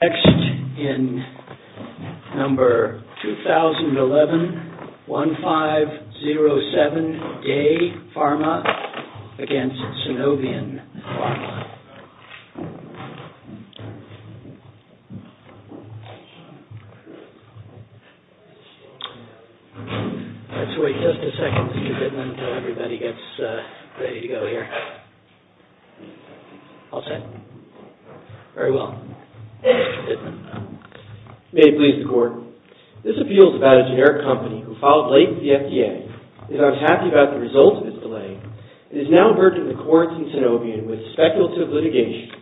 Next in number 2011, 1507, DEY PHARMA v. SUNOVION PHARMA. Let's wait just a second, Mr. Pittman, until everybody gets ready to go here. All set? Very well. May it please the court, this appeal is about a generic company who filed late with the FDA. It is unhappy about the results of its delay. It is now a burden to the courts in SUNOVION with speculative litigation.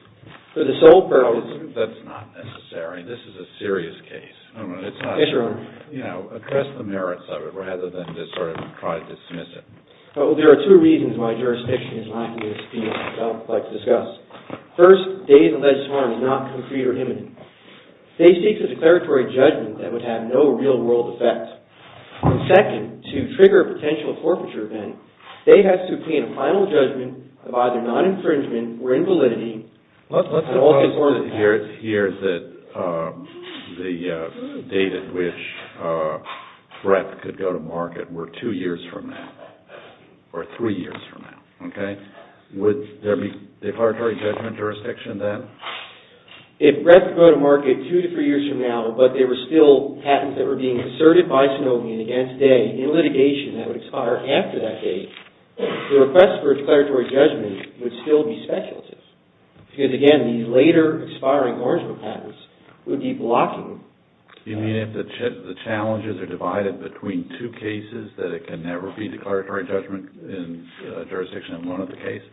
For the sole purpose... That's not necessary. This is a serious case. Yes, Your Honor. You know, address the merits of it rather than just sort of try to dismiss it. Well, there are two reasons why jurisdiction is lacking in speed that I would like to discuss. First, DEY's alleged harm is not concrete or imminent. DEY seeks a declaratory judgment that would have no real-world effect. Second, to trigger a potential forfeiture event, DEY has to obtain a final judgment of either non-infringement or invalidity... Let's suppose here that the date at which breath could go to market were two years from now, or three years from now, okay? Would there be declaratory judgment jurisdiction then? If breath could go to market two to three years from now, but there were still patents that were being asserted by SUNOVION against DEY in litigation that would expire after that date, the request for declaratory judgment would still be speculative. Because again, the later expiring original patents would be blocking... You mean if the challenges are divided between two cases, that it can never be declaratory judgment in jurisdiction of one of the cases?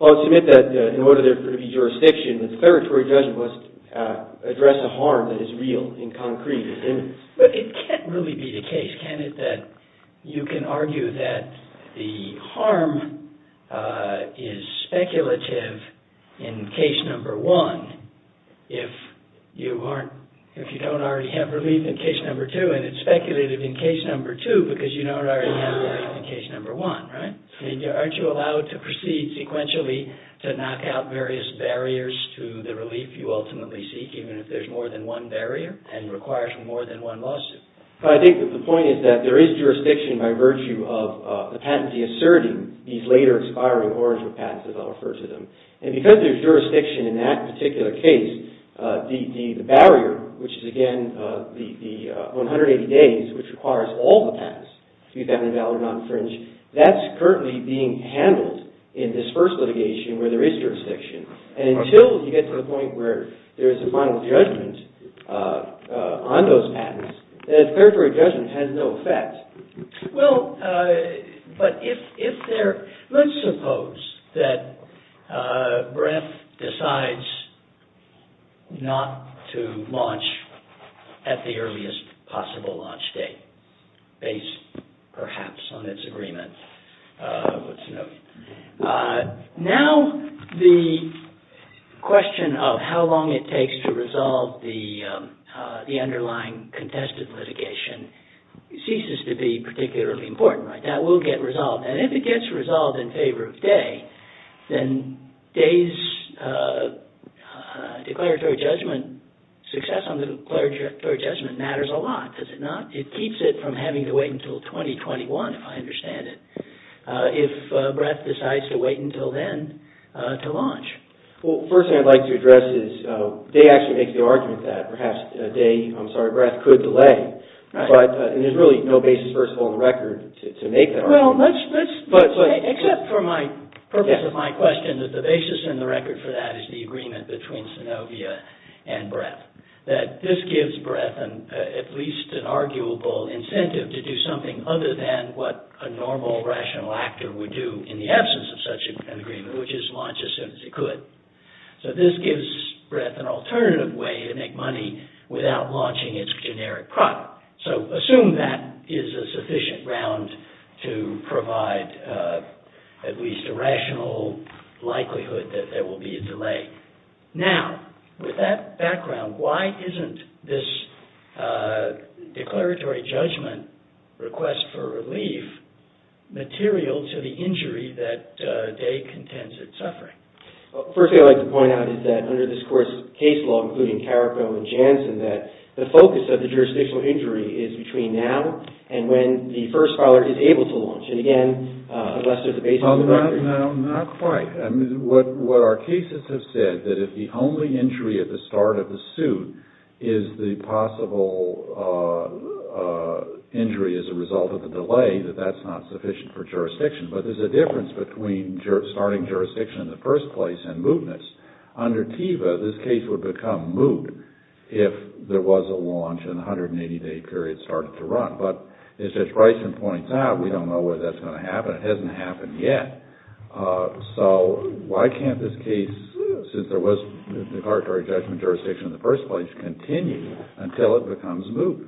Well, I submit that in order for there to be jurisdiction, the declaratory judgment must address a harm that is real and concrete and imminent. But it can't really be the case, can it, that you can argue that the harm is speculative in case number one if you don't already have relief in case number two, and it's speculative in case number two because you don't already have relief in case number one, right? I mean, aren't you allowed to proceed sequentially to knock out various barriers to the relief you ultimately seek even if there's more than one barrier and requires more than one lawsuit? But I think the point is that there is jurisdiction by virtue of the patents asserting these later expiring original patents, as I'll refer to them. And because there's jurisdiction in that particular case, the barrier, which is, again, the 180 days, which requires all the patents, be that in valid or non-fringe, that's currently being handled in this first litigation where there is jurisdiction. And until you get to the point where there's a final judgment on those patents, that declaratory judgment has no effect. Well, but if there... Let's suppose that Brent decides not to launch at the earliest possible launch date based, perhaps, on its agreement. Now the question of how long it takes to resolve the underlying contested litigation ceases to be particularly important, right? That will get resolved. And if it gets resolved in favor of Day, then Day's declaratory judgment, success on the declaratory judgment matters a lot, does it not? It keeps it from having to wait until 2021, if I understand it, if Brett decides to wait until then to launch. Well, the first thing I'd like to address is Day actually makes the argument that perhaps Day, I'm sorry, Brett could delay, but there's really no basis, first of all, on the record to make that argument. Well, let's... Except for my purpose of my question that the basis and the record for that is the agreement between Synovia and Brett, that this gives Brett at least an arguable incentive to do something other than what a normal rational actor would do in the absence of such an agreement, which is launch as soon as he could. So this gives Brett an alternative way to make money without launching its generic product. So assume that is a sufficient round to provide at least a rational likelihood that there will be a delay. Now, with that background, why isn't this declaratory judgment request for relief material to the injury that Day contends it's suffering? Well, the first thing I'd like to point out is that under this Court's case law, including Carrico and Jansen, that the focus of the jurisdictional injury is between now and when the first filer is able to launch. And again, unless there's a basis... Not quite. I mean, what our cases have said, that if the only injury at the start of the suit is the possible injury as a result of the delay, that that's not sufficient for jurisdiction. But there's a difference between starting jurisdiction in the first place and mootness. Under TEVA, this case would become moot if there was a launch and the 180-day period started to run. But as Judge Bryson points out, we don't know whether that's going to happen. It hasn't happened yet. So why can't this case, since there was declaratory judgment jurisdiction in the first place, continue until it becomes moot?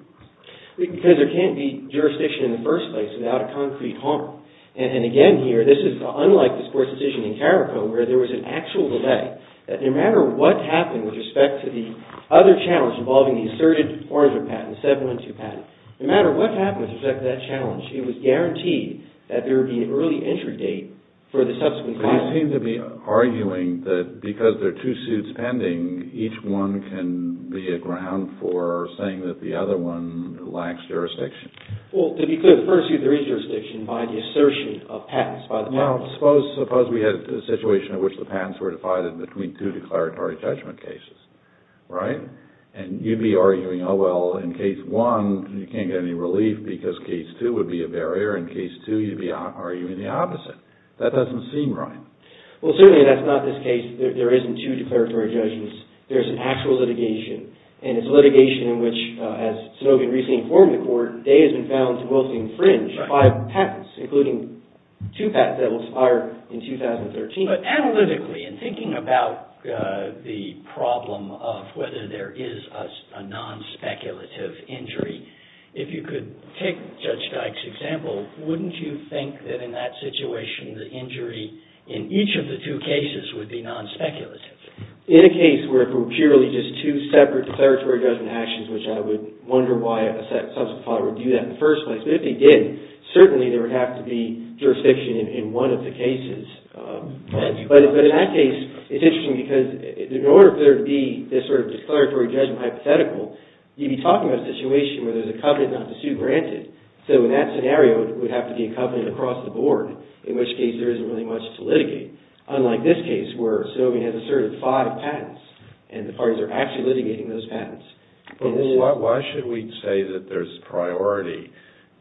Because there can't be jurisdiction in the first place without a concrete harm. And again here, this is unlike this court's decision in Carrico, where there was an actual delay. No matter what happened with respect to the other challenge involving the asserted Oranger patent, the 712 patent, no matter what happened with respect to that challenge, it was guaranteed that there would be an early entry date for the subsequent filing. But you seem to be arguing that because there are two suits pending, each one can be a ground for saying that the other one lacks jurisdiction. Well, to be clear, the first suit, there is jurisdiction by the assertion of patents. Now, suppose we had a situation in which the patents were divided between two declaratory judgment cases, right? And you'd be arguing, oh, well, in case one, you can't get any relief because case two would be a barrier. In case two, you'd be arguing the opposite. That doesn't seem right. Well, certainly that's not this case. There isn't two declaratory judgments. There's an actual litigation, and it's a litigation in which, as Snowden recently informed the court, data has been found to mostly infringe five patents, including two patents that were expired in 2013. But analytically, in thinking about the problem of whether there is a non-speculative injury, if you could take Judge Dyke's example, wouldn't you think that in that situation, the injury in each of the two cases would be non-speculative? In a case where it were purely just two separate declaratory judgment actions, which I would wonder why a subsequent file would do that in the first place, but if it did, certainly there would have to be jurisdiction in one of the cases. But in that case, it's interesting because in order for there to be this sort of declaratory judgment hypothetical, you'd be talking about a situation where there's a covenant not to sue granted. So in that scenario, it would have to be a covenant across the board, in which case there isn't really much to litigate, unlike this case where Snowden has asserted five patents, and the parties are actually litigating those patents. But why should we say that there's priority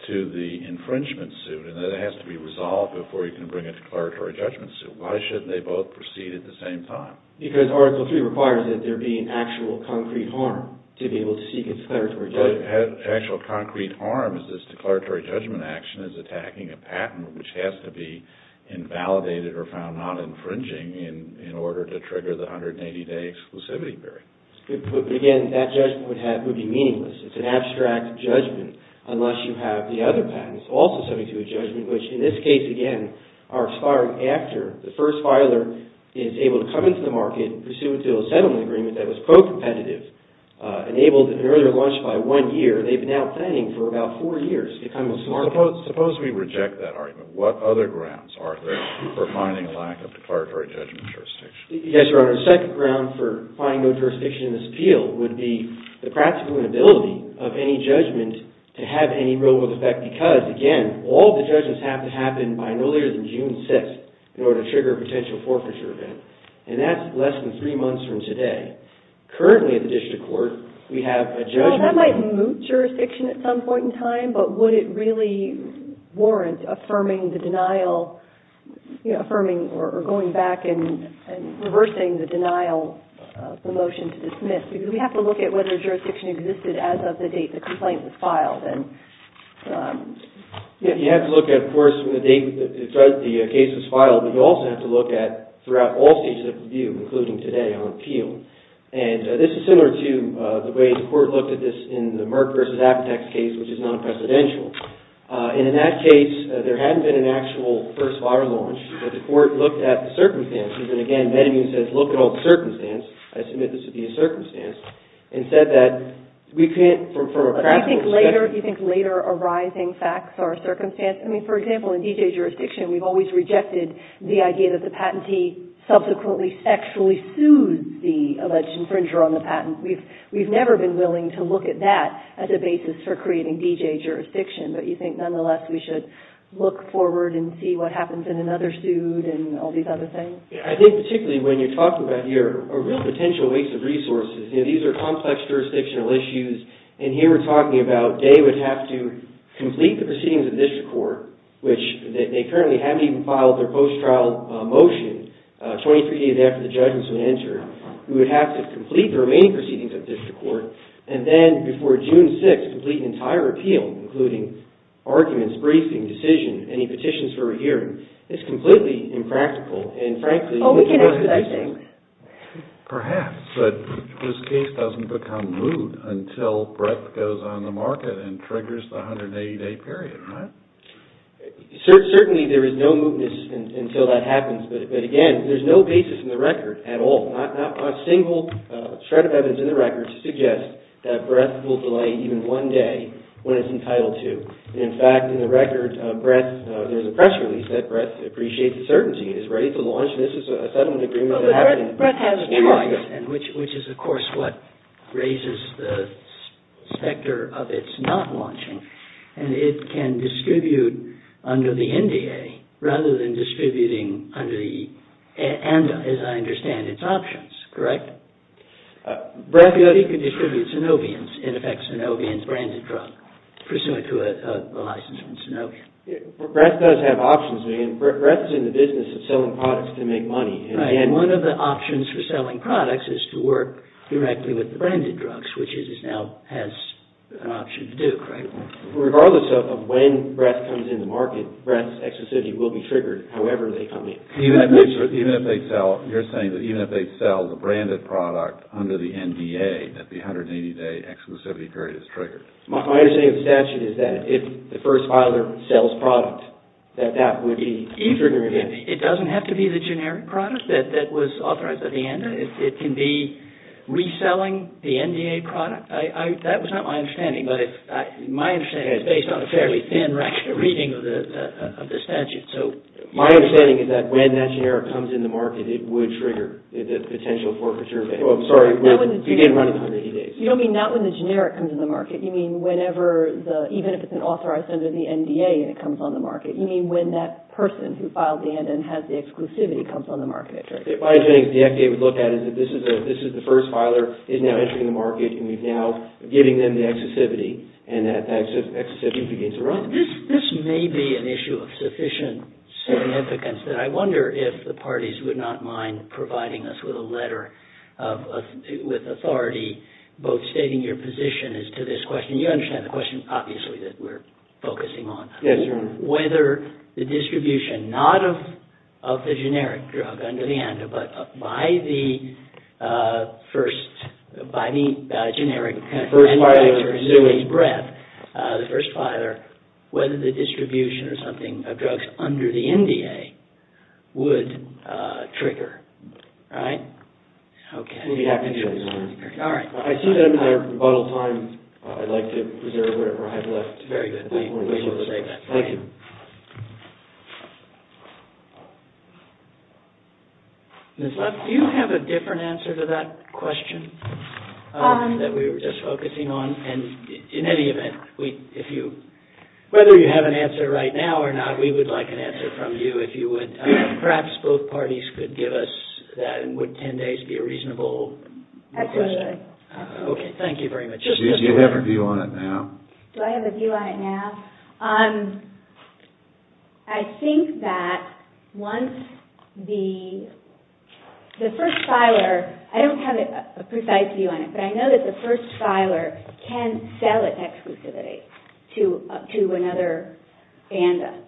to the infringement suit, and that it has to be resolved before you can bring a declaratory judgment suit? Why shouldn't they both proceed at the same time? Because Article III requires that there be an actual concrete harm to be able to seek a declaratory judgment. But actual concrete harm is this declaratory judgment action is attacking a patent which has to be invalidated or found not infringing in order to trigger the 180-day exclusivity period. But again, that judgment would be meaningless. It's an abstract judgment unless you have the other patents also subject to a judgment, which in this case, again, are expired after the first filer is able to come into the market pursuant to a settlement agreement that was co-competitive, enabled at an earlier launch by one year. They've now been planning for about four years to come to this market. Suppose we reject that argument. What other grounds are there for finding a lack of declaratory judgment jurisdiction? Yes, Your Honor, a second ground for finding no jurisdiction in this appeal would be the practical inability of any judgment to have any real-world effect because, again, all of the judgments have to happen by no later than June 6th in order to trigger a potential forfeiture event. And that's less than three months from today. Currently at the district court, we have a judgment... Well, that might moot jurisdiction at some point in time, but would it really warrant affirming the denial, affirming or going back and reversing the denial of the motion to dismiss? Because we have to look at whether jurisdiction existed as of the date the complaint was filed. You have to look at, of course, the date the case was filed, but you also have to look at throughout all stages of review, including today on appeal. And this is similar to the way the court looked at this in the Merck v. Apotex case, which is non-presidential. And in that case, there hadn't been an actual first-fire launch. The court looked at the circumstances, and again, Benjamin says, look at all the circumstances. I submit this would be a circumstance. And said that we can't, from a practical perspective... Do you think later arising facts are a circumstance? I mean, for example, in D.J. jurisdiction, we've always rejected the idea that the patentee subsequently sexually sued the alleged infringer on the patent. We've never been willing to look at that as a basis for creating D.J. jurisdiction, but you think nonetheless we should look forward and see what happens in another suit and all these other things? I think particularly when you're talking about a real potential waste of resources, these are complex jurisdictional issues, and here we're talking about they would have to complete the proceedings of the district court, which they currently haven't even filed their post-trial motion, 23 days after the judges would enter. We would have to complete the remaining proceedings of the district court, and then before June 6th, complete an entire appeal, including arguments, briefing, decision, any petitions for a hearing. It's completely impractical, and frankly... Perhaps, but this case doesn't become moot until Brett goes on the market and triggers the 180-day period, right? Certainly, there is no mootness until that happens, but again, there's no basis in the record at all, not a single shred of evidence in the record to suggest that Brett will delay even one day when it's entitled to. In fact, in the record, there's a press release that Brett appreciates the certainty and is ready to launch, and this is a settlement agreement... But Brett has a choice, which is, of course, what raises the specter of its not launching, and it can distribute under the NDA, rather than distributing under the ANDA, as I understand its options, correct? Brett could distribute synovium, in effect, synovium branded drug, pursuant to the license of synovium. Brett does have options, and Brett's in the business of selling products to make money. One of the options for selling products is to work directly with the branded drugs, which it now has an option to do, correct? Regardless of when Brett comes into market, Brett's exclusivity will be triggered, however they come in. You're saying that even if they sell the branded product under the NDA, that the 180-day exclusivity period is triggered? My understanding of the statute is that if the first filer sells product, that that would be either... It doesn't have to be the generic product that was authorized by the ANDA. It can be reselling the NDA product. That was not my understanding, but my understanding is based on a fairly thin reading of the statute. My understanding is that when that generic comes into market, it would trigger the potential for preserving. I'm sorry, you didn't run it 180 days. You don't mean not when the generic comes into the market. You mean whenever, even if it's authorized under the NDA, and it comes on the market. You mean when that person who filed the ANDA and has the exclusivity comes on the market. My understanding is the FDA would look at it as this is the first filer is now entering the market, and we're now giving them the exclusivity, and that exclusivity begins to run. This may be an issue of sufficient significance, and I wonder if the parties would not mind providing us with a letter with authority both stating your position as to this question. You understand the question, obviously, that we're focusing on. Yes, Your Honor. Whether the distribution, not of the generic drug under the ANDA, but by the first, by the generic. First filer. The first filer, whether the distribution or something of drugs under the NDA would trigger. Right? Okay. We'll be back to you, Your Honor. All right. I see that I'm out of time. I'd like to reserve whatever I have left. Very good. We will save that. Thank you. Ms. Love, do you have a different answer to that question that we were just focusing on? And in any event, whether you have an answer right now or not, we would like an answer from you if you would. Perhaps both parties could give us that, and would 10 days be a reasonable request? Absolutely. Okay. Thank you very much. You have a view on it now. Do I have a view on it now? I think that once the first filer, I don't have a precise view on it, but I know that the first filer can sell its exclusivity to another ANDA.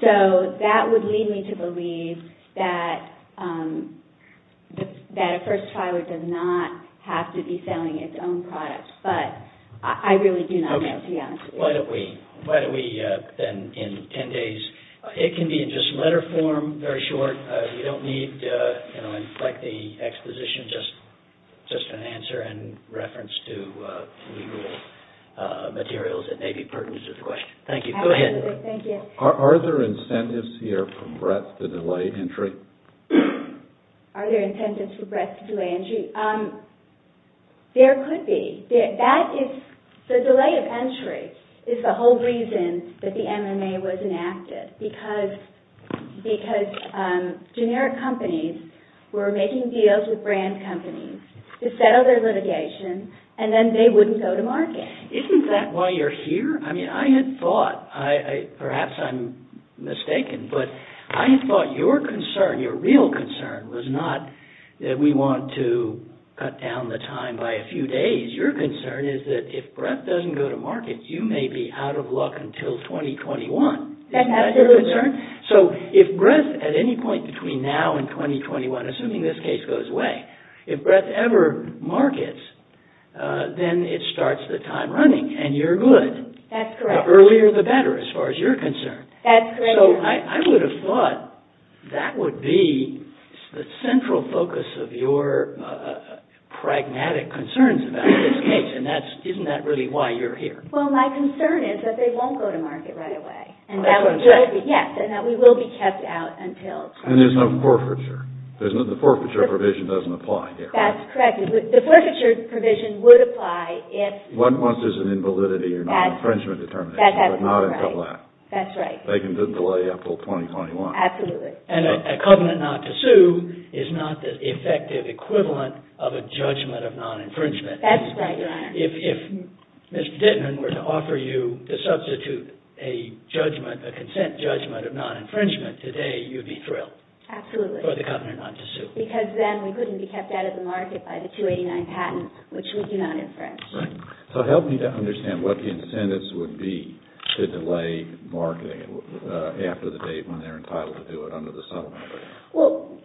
So that would lead me to believe that a first filer does not have to be Why don't we then, in 10 days, it can be in just letter form, very short. We don't need to inflect the exposition, just an answer in reference to materials that may be pertinent to the question. Thank you. Absolutely. Thank you. Are there incentives here for breadth to delay entry? Are there incentives for breadth to delay entry? There could be. The delay of entry is the whole reason that the M&A was enacted, because generic companies were making deals with brand companies to settle their litigation, and then they wouldn't go to market. Isn't that why you're here? I mean, I had thought, perhaps I'm mistaken, but I thought your concern, your real concern, was not that we want to cut down the time by a few days. Your concern is that if breadth doesn't go to market, you may be out of luck until 2021. Isn't that your concern? So if breadth, at any point between now and 2021, assuming this case goes away, if breadth ever markets, then it starts the time running, and you're good. That's correct. The earlier the better, as far as your concern. That's correct. So I would have thought that would be the central focus of your pragmatic concerns about this case, and isn't that really why you're here? Well, my concern is that they won't go to market right away. That's what I'm saying. Yes, and that we will be kept out until... And there's no forfeiture. The forfeiture provision doesn't apply here. That's correct. The forfeiture provision would apply if... Unless there's an invalidity or not infringement determination, but not until then. That's right. They can delay up until 2021. Absolutely. And a covenant not to sue is not the effective equivalent of a judgment of non-infringement. That's right, Your Honor. If Mr. Dittman were to offer you to substitute a judgment, a consent judgment of non-infringement today, you'd be thrilled. Absolutely. For the covenant not to sue. Because then we couldn't be kept out of the market by the 289 patent, which we do not infringe. Right. So help me to understand what the incentives would be to delay marketing after the date when they're entitled to do it under the settlement agreement. Well,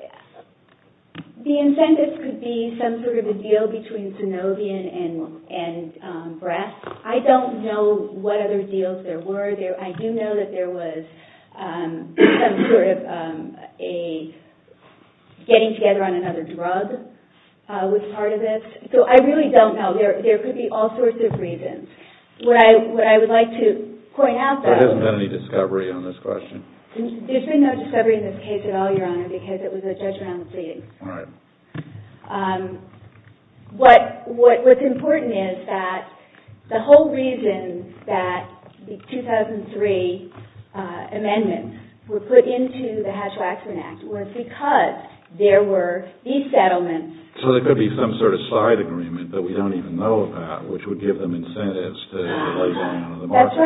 the incentives could be some sort of a deal between Synovion and Breast. I don't know what other deals there were. I do know that there was some sort of a getting together on another drug was part of this. So I really don't know. There could be all sorts of reasons. What I would like to point out, though... There hasn't been any discovery on this question. There's been no discovery in this case at all, Your Honor, because it was a judgment on the date. All right. What's important is that the whole reason that the 2003 amendments were put into the Hatch-Waxman Act was because there were these settlements... So there could be some sort of side agreement that we don't even know about, which would give them incentives to delay going under the market.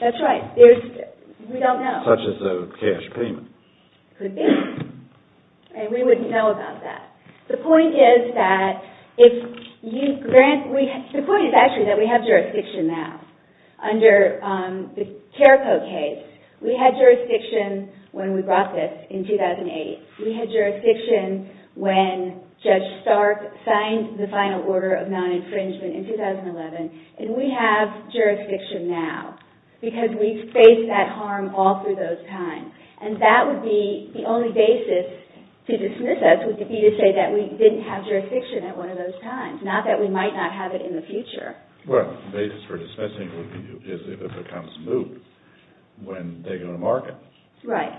That's right. We don't know. Such as a cash payment. Could be. And we wouldn't know about that. The point is that if you grant... The point is actually that we have jurisdiction now under the Careco case. We had jurisdiction when we brought this in 2008. We had jurisdiction when Judge Stark signed the final order of non-infringement in 2011. And we have jurisdiction now because we've faced that harm all through those times. And that would be the only basis to dismiss us would be to say that we didn't have jurisdiction at one of those times. Not that we might not have it in the future. Well, the basis for dismissing is if it becomes moot when they go to market. Right.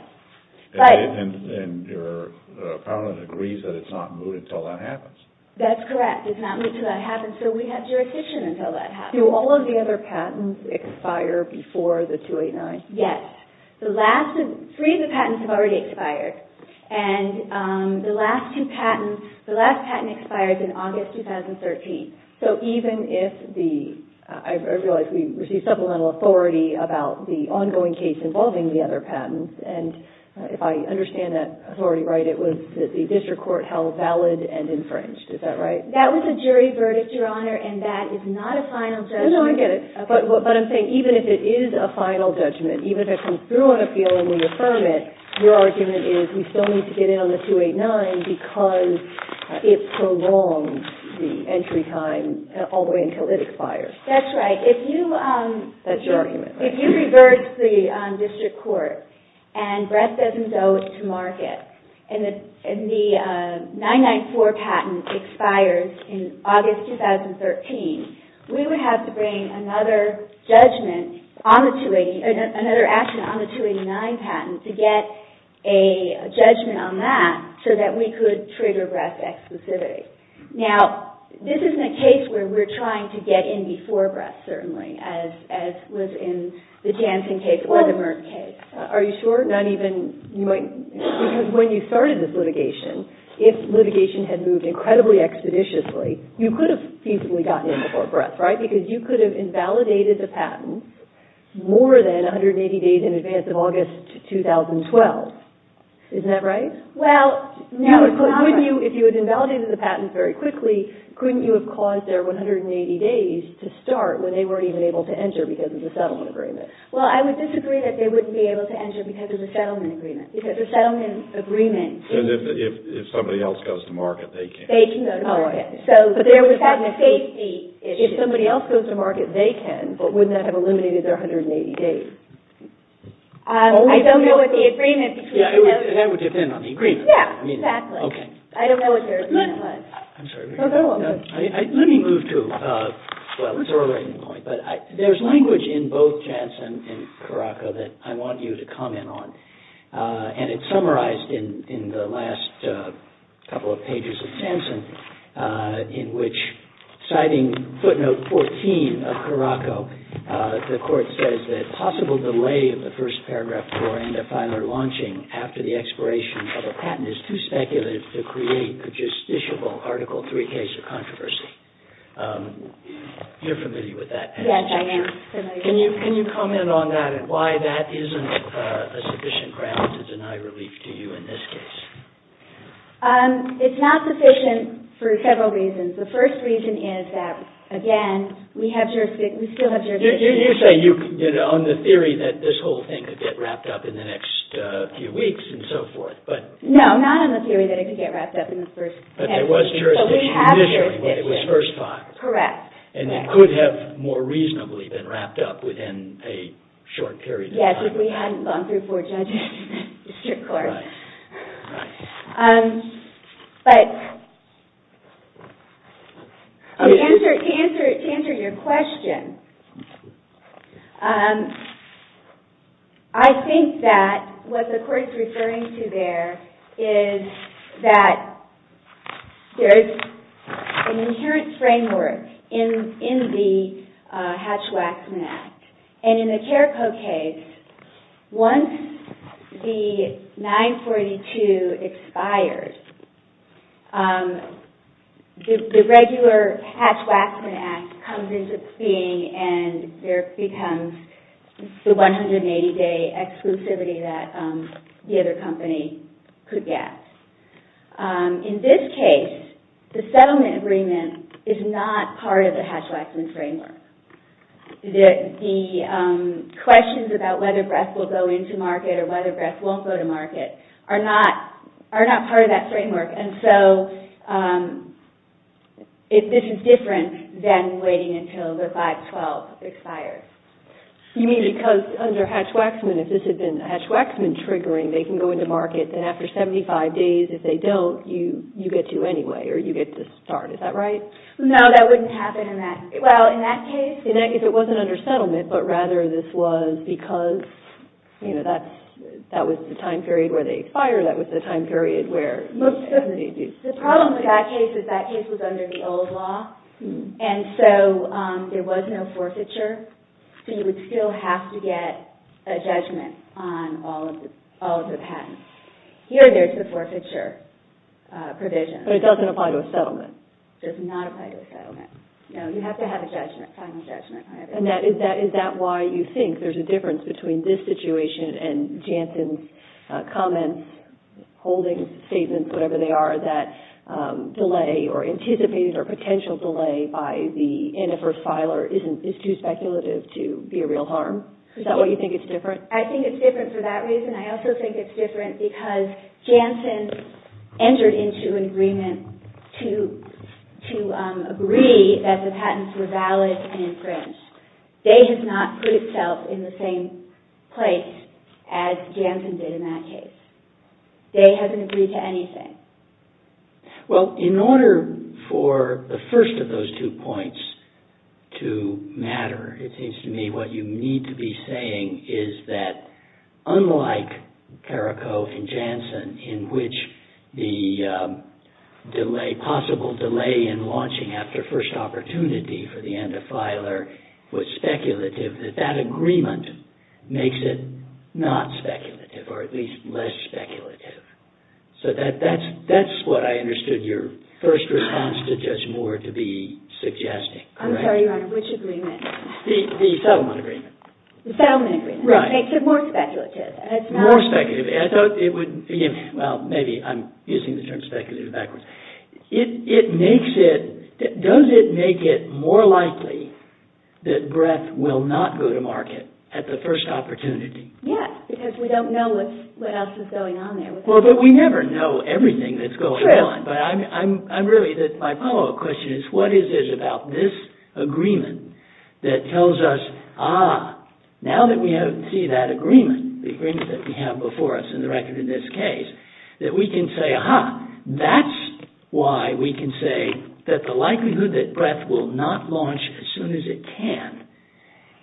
And your opponent agrees that it's not moot until that happens. That's correct. It's not moot until that happens, so we have jurisdiction until that happens. Do all of the other patents expire before the 289? Yes. Three of the patents have already expired. And the last patent expired in August 2013. So even if the... I realize we received supplemental authority about the ongoing case involving the other patents. And if I understand that authority right, it was that the district court held valid and infringed. Is that right? That was a jury verdict, Your Honor, and that is not a final judgment. No, no, I get it. But I'm saying even if it is a final judgment, even if it comes through on appeal and we affirm it, your argument is we still need to get in on the 289 because it prolonged the entry time all the way until it expires. That's right. If you... That's your argument, right? If you revert to the district court and Brett Sessions owes to market and the 994 patent expires in August 2013, we would have to bring another judgment on the 289... another action on the 289 patent to get a judgment on that so that we could trigger Brett's exclusivity. Now, this isn't a case where we're trying to get in before Brett certainly as was in the Jansen case or the Merck case. Are you sure? Not even... When you started this litigation, if litigation had moved incredibly expeditiously, you could have feasibly gotten in before Brett, right? Because you could have invalidated the patent more than 180 days in advance of August 2012. Isn't that right? Well... If you had invalidated the patent very quickly, couldn't you have caused their 180 days to start when they weren't even able to enter because of the settlement agreement? Well, I would disagree that they wouldn't be able to enter because of the settlement agreement. Because the settlement agreement is... And if somebody else goes to market, they can't. They can go to market. Oh, okay. But there would have been a safety issue. If somebody else goes to market, they can, but wouldn't that have eliminated their 180 days? I don't know what the agreement... Yeah, that would depend on the agreement. Yeah, exactly. Okay. I don't know what their agreement was. I'm sorry. Let me move to... Well, it's already a point, but there's language in both Jansen and Karaka that I want you to comment on. And it's summarized in the last couple of pages of Jansen in which, citing footnote 14 of Karaka, the Court says that possible delay of the first paragraph before end-of-filer launching after the expiration of a patent is too speculative to create a justiciable Article III case of controversy. You're familiar with that. Yes, I am. Can you comment on that and why that isn't a sufficient ground to deny relief to you in this case? It's not sufficient for several reasons. The first reason is that, again, we still have jurisdiction. You say on the theory that this whole thing could get wrapped up in the next few weeks and so forth, but... No, not on the theory that it could get wrapped up in the first 10 weeks. But there was jurisdiction initially, but it was first thought. Correct. And it could have more reasonably been wrapped up within a short period of time. Yes, if we hadn't gone through four judges in the district court. Right. To answer your question, I think that what the Court is referring to there is that there is an inherent framework in the Hatch-Waxman Act. And in the Carrico case, once the 942 expires, the regular Hatch-Waxman Act comes into being and there becomes the 180-day exclusivity that the other company could get. In this case, the settlement agreement is not part of the Hatch-Waxman framework. The questions about whether breath will go into market or whether breath won't go to market are not part of that framework. And so this is different than waiting until the 512 expires. You mean because under Hatch-Waxman, if this had been Hatch-Waxman triggering, they can go into market, then after 75 days, if they don't, you get to anyway, or you get to start. Is that right? No, that wouldn't happen in that case. If it wasn't under settlement, but rather this was because that was the time period where they expire, that was the time period where... The problem with that case is that case was under the old law, and so there was no forfeiture, so you would still have to get a judgment on all of the patents. Here, there's the forfeiture provision. But it doesn't apply to a settlement. It does not apply to a settlement. No, you have to have a judgment, final judgment. And is that why you think there's a difference between this situation and Janssen's comments, holdings, statements, whatever they are, that delay or anticipated or potential delay by the Antifa filer is too speculative to be a real harm? Is that why you think it's different? I think it's different for that reason. I also think it's different because Janssen entered into an agreement to agree that the patents were valid and infringed. They have not put itself in the same place as Janssen did in that case. They haven't agreed to anything. Well, in order for the first of those two points to matter, it seems to me, what you need to be saying is that unlike Carrico and Janssen, in which the delay, possible delay in launching after first opportunity for the Antifa filer was speculative, that that agreement makes it not speculative or at least less speculative. So that's what I understood your first response to Judge Moore to be suggesting, correct? I'm sorry, Your Honor, which agreement? The settlement agreement. The settlement agreement. Right. Makes it more speculative. More speculative. I thought it would... Well, maybe I'm using the term speculative backwards. It makes it... Does it make it more likely that breadth will not go to market at the first opportunity? Yes, because we don't know what else is going on there. Well, but we never know everything that's going on. True. But I'm really... My follow-up question is, what is it about this agreement that tells us, ah, now that we see that agreement, the agreement that we have before us in the record in this case, that we can say, aha, that's why we can say that the likelihood that breadth will not launch as soon as it can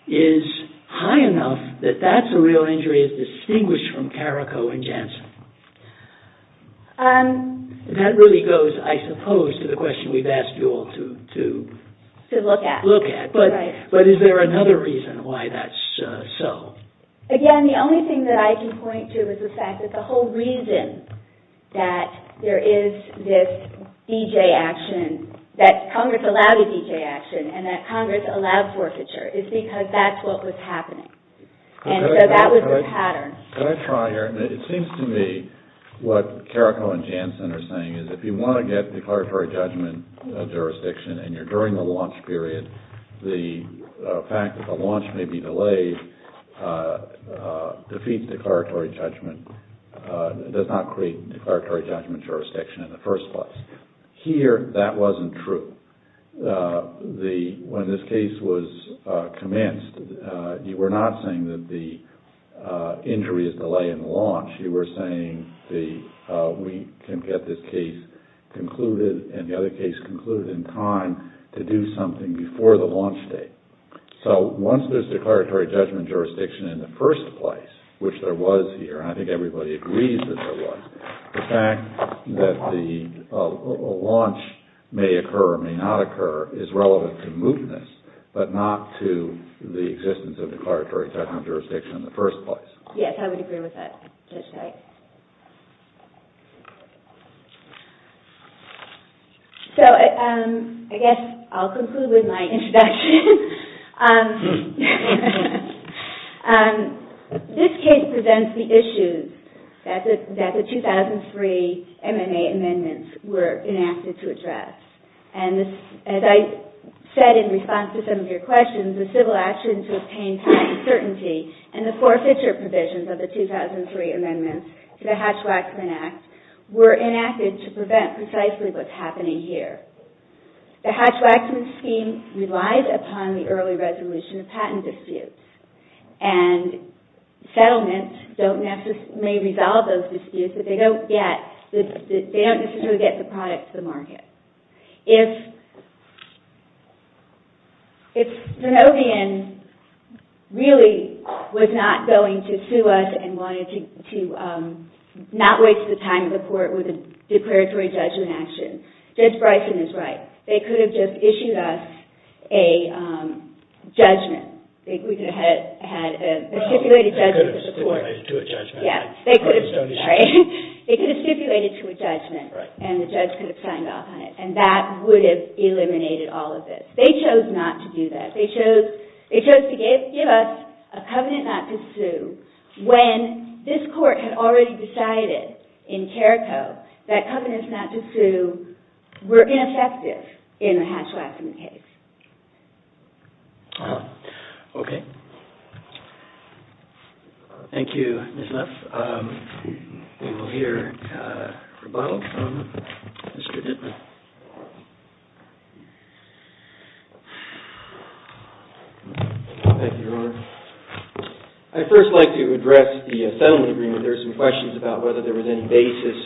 is high enough that that's a real injury as distinguished from Carrico and Janssen? That really goes, I suppose, to the question we've asked you all to... To look at. Look at. But is there another reason why that's so? Again, the only thing that I can point to is the fact that the whole reason that there is this DJ action, that Congress allowed a DJ action and that Congress allowed forfeiture is because that's what was happening. And so that was the pattern. Could I try here? It seems to me what Carrico and Janssen are saying is if you want to get declaratory judgment of jurisdiction and you're during the launch period, the fact that the launch may be delayed defeats declaratory judgment. It does not create declaratory judgment jurisdiction in the first place. Here, that wasn't true. When this case was commenced, you were not saying that the injury is delaying the launch. You were saying we can get this case concluded and the other case concluded in time to do something before the launch date. So once there's declaratory judgment jurisdiction in the first place, which there was here, and I think everybody agrees that there was, the fact that the launch may occur or may not occur is relevant to mootness but not to the existence of declaratory judgment jurisdiction in the first place. Yes, I would agree with that. So I guess I'll conclude with my introduction. This case presents the issues that the 2003 M&A amendments were enacted to address. As I said in response to some of your questions, the civil actions to obtain time and certainty and the four future provisions of the 2003 amendments to the Hatch-Waxman Act were enacted to prevent precisely what's happening here. The Hatch-Waxman scheme relies upon the early resolution of patent disputes and settlements may resolve those disputes but they don't necessarily get the product to the market. If Zenobian really was not going to sue us and wanted to not waste the time of the court with a declaratory judgment action, Judge Bryson is right. They could have just issued us a judgment. We could have had a stipulated judgment of the court. They could have stipulated to a judgment and the judge could have signed off on it and that would have eliminated all of this. They chose not to do that. They chose to give us a covenant not to sue when this court had already decided in Carrico that covenants not to sue were ineffective in a Hatch-Waxman case. Thank you, Ms. Nuff. We will hear a rebuttal from Mr. Dittmer. Thank you, Your Honor. I'd first like to address the settlement agreement. There are some questions about whether there was any basis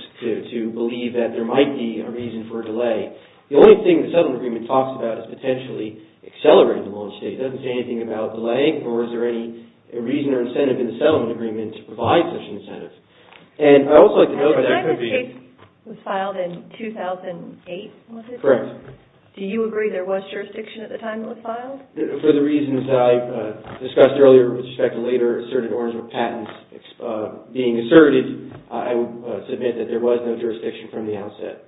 to believe that there might be a reason for a delay. The only thing the settlement agreement talks about is potentially accelerating the launch date. It doesn't say anything about delaying or is there any reason or incentive in the settlement agreement to provide such an incentive. And I would also like to note that there could be... The time of date was filed in 2012. Correct. Do you agree there was jurisdiction at the time it was filed? For the reasons that I discussed earlier with respect to later asserted Orangewood patents being asserted, I would submit that there was no jurisdiction from the outset.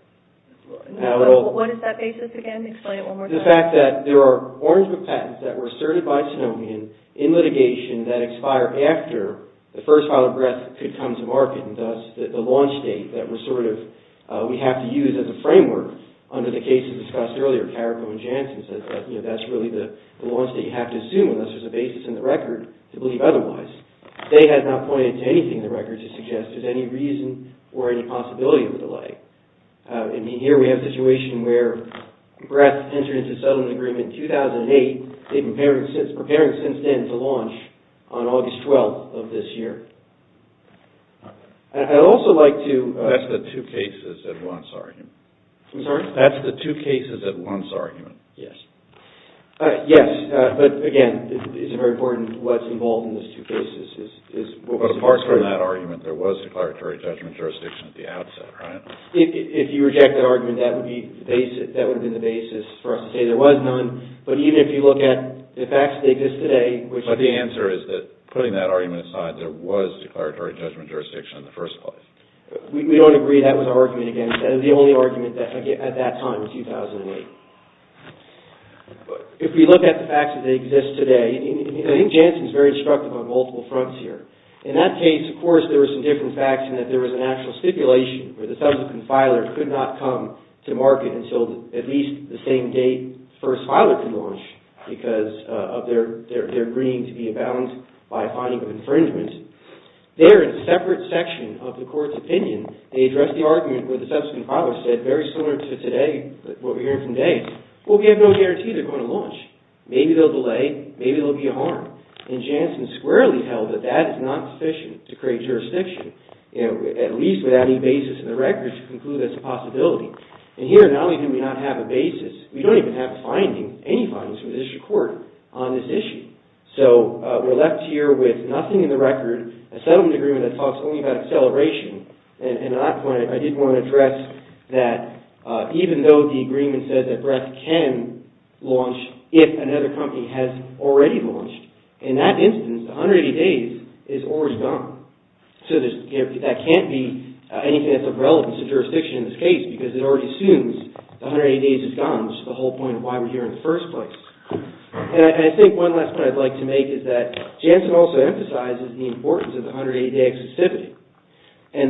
What is that basis again? Explain it one more time. The fact that there are Orangewood patents that were asserted by Sonomian in litigation that expire after the first file of breath could come to market and thus the launch date that we have to use as a framework under the cases discussed earlier, Carrico and Jansen, that that's really the launch date you have to assume unless there's a basis in the record to believe otherwise. They have not pointed to anything in the record to suggest there's any reason or any possibility of a delay. I mean, here we have a situation where breath entered into settlement agreement in 2008. They've been preparing since then to launch on August 12th of this year. I'd also like to... That's the two cases at once argument. I'm sorry? That's the two cases at once argument. Yes. Yes, but again, it's very important what's involved in those two cases. But apart from that argument, there was declaratory judgment jurisdiction at the outset, right? If you reject that argument, that would be the basis for us to say there was none, but even if you look at But the answer is that putting that argument aside, there was declaratory judgment jurisdiction in the first place. We don't agree that was our argument against the two cases at once. That is the only argument that I get at that time in 2008. If we look at the facts that exist today, I think Jansen is very instructive on multiple fronts here. In that case, of course, there were some different facts in that there was an actual stipulation where the subsequent filer could not come to market until at least the same day because of their agreeing to be abound by a finding of infringement. There, in a separate section of the court's opinion, they address the argument where the subsequent filer said, very similar to today, what we're hearing from Dave, well, we have no guarantee they're going to launch. Maybe they'll delay. Maybe there'll be a harm. Jansen squarely held that that is not sufficient to create jurisdiction, at least without any basis in the record to conclude that's a possibility. Here, not only do we not have a basis, we don't even have a finding, any findings from the district court on this issue. We're left here with nothing in the record, a settlement agreement that talks only about acceleration. And at that point, I did want to address that even though the agreement says that Breck can launch if another company has already launched, in that instance, 180 days is already gone. So, that can't be anything that's of relevance to jurisdiction in this case because it already assumes the 180 days is gone, which is the whole point of why we're here in the first place. And I think one last point I'd like to make is that Jansen also emphasizes the importance of the 180-day exclusivity. And,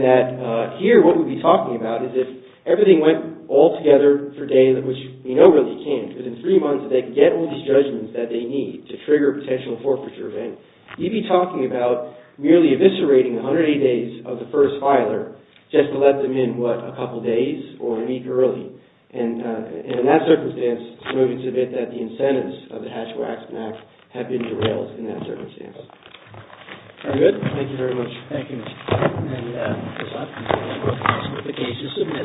here, what we'd be talking about is if everything went all together for days, which we know really can't because in three months they can get all these judgments that they need to trigger a potential forfeiture event, we'd be talking about merely eviscerating the 180 days of the first filer just to let them in what, a couple days or a week early. And, in that circumstance, it's moving to the bit that the incentives of the Hatch-Waxman Act have been derailed in that circumstance. Are we good? Thank you very much. Thank you, Mr. Chairman. And, as often said, I'm looking for a certification to submit it.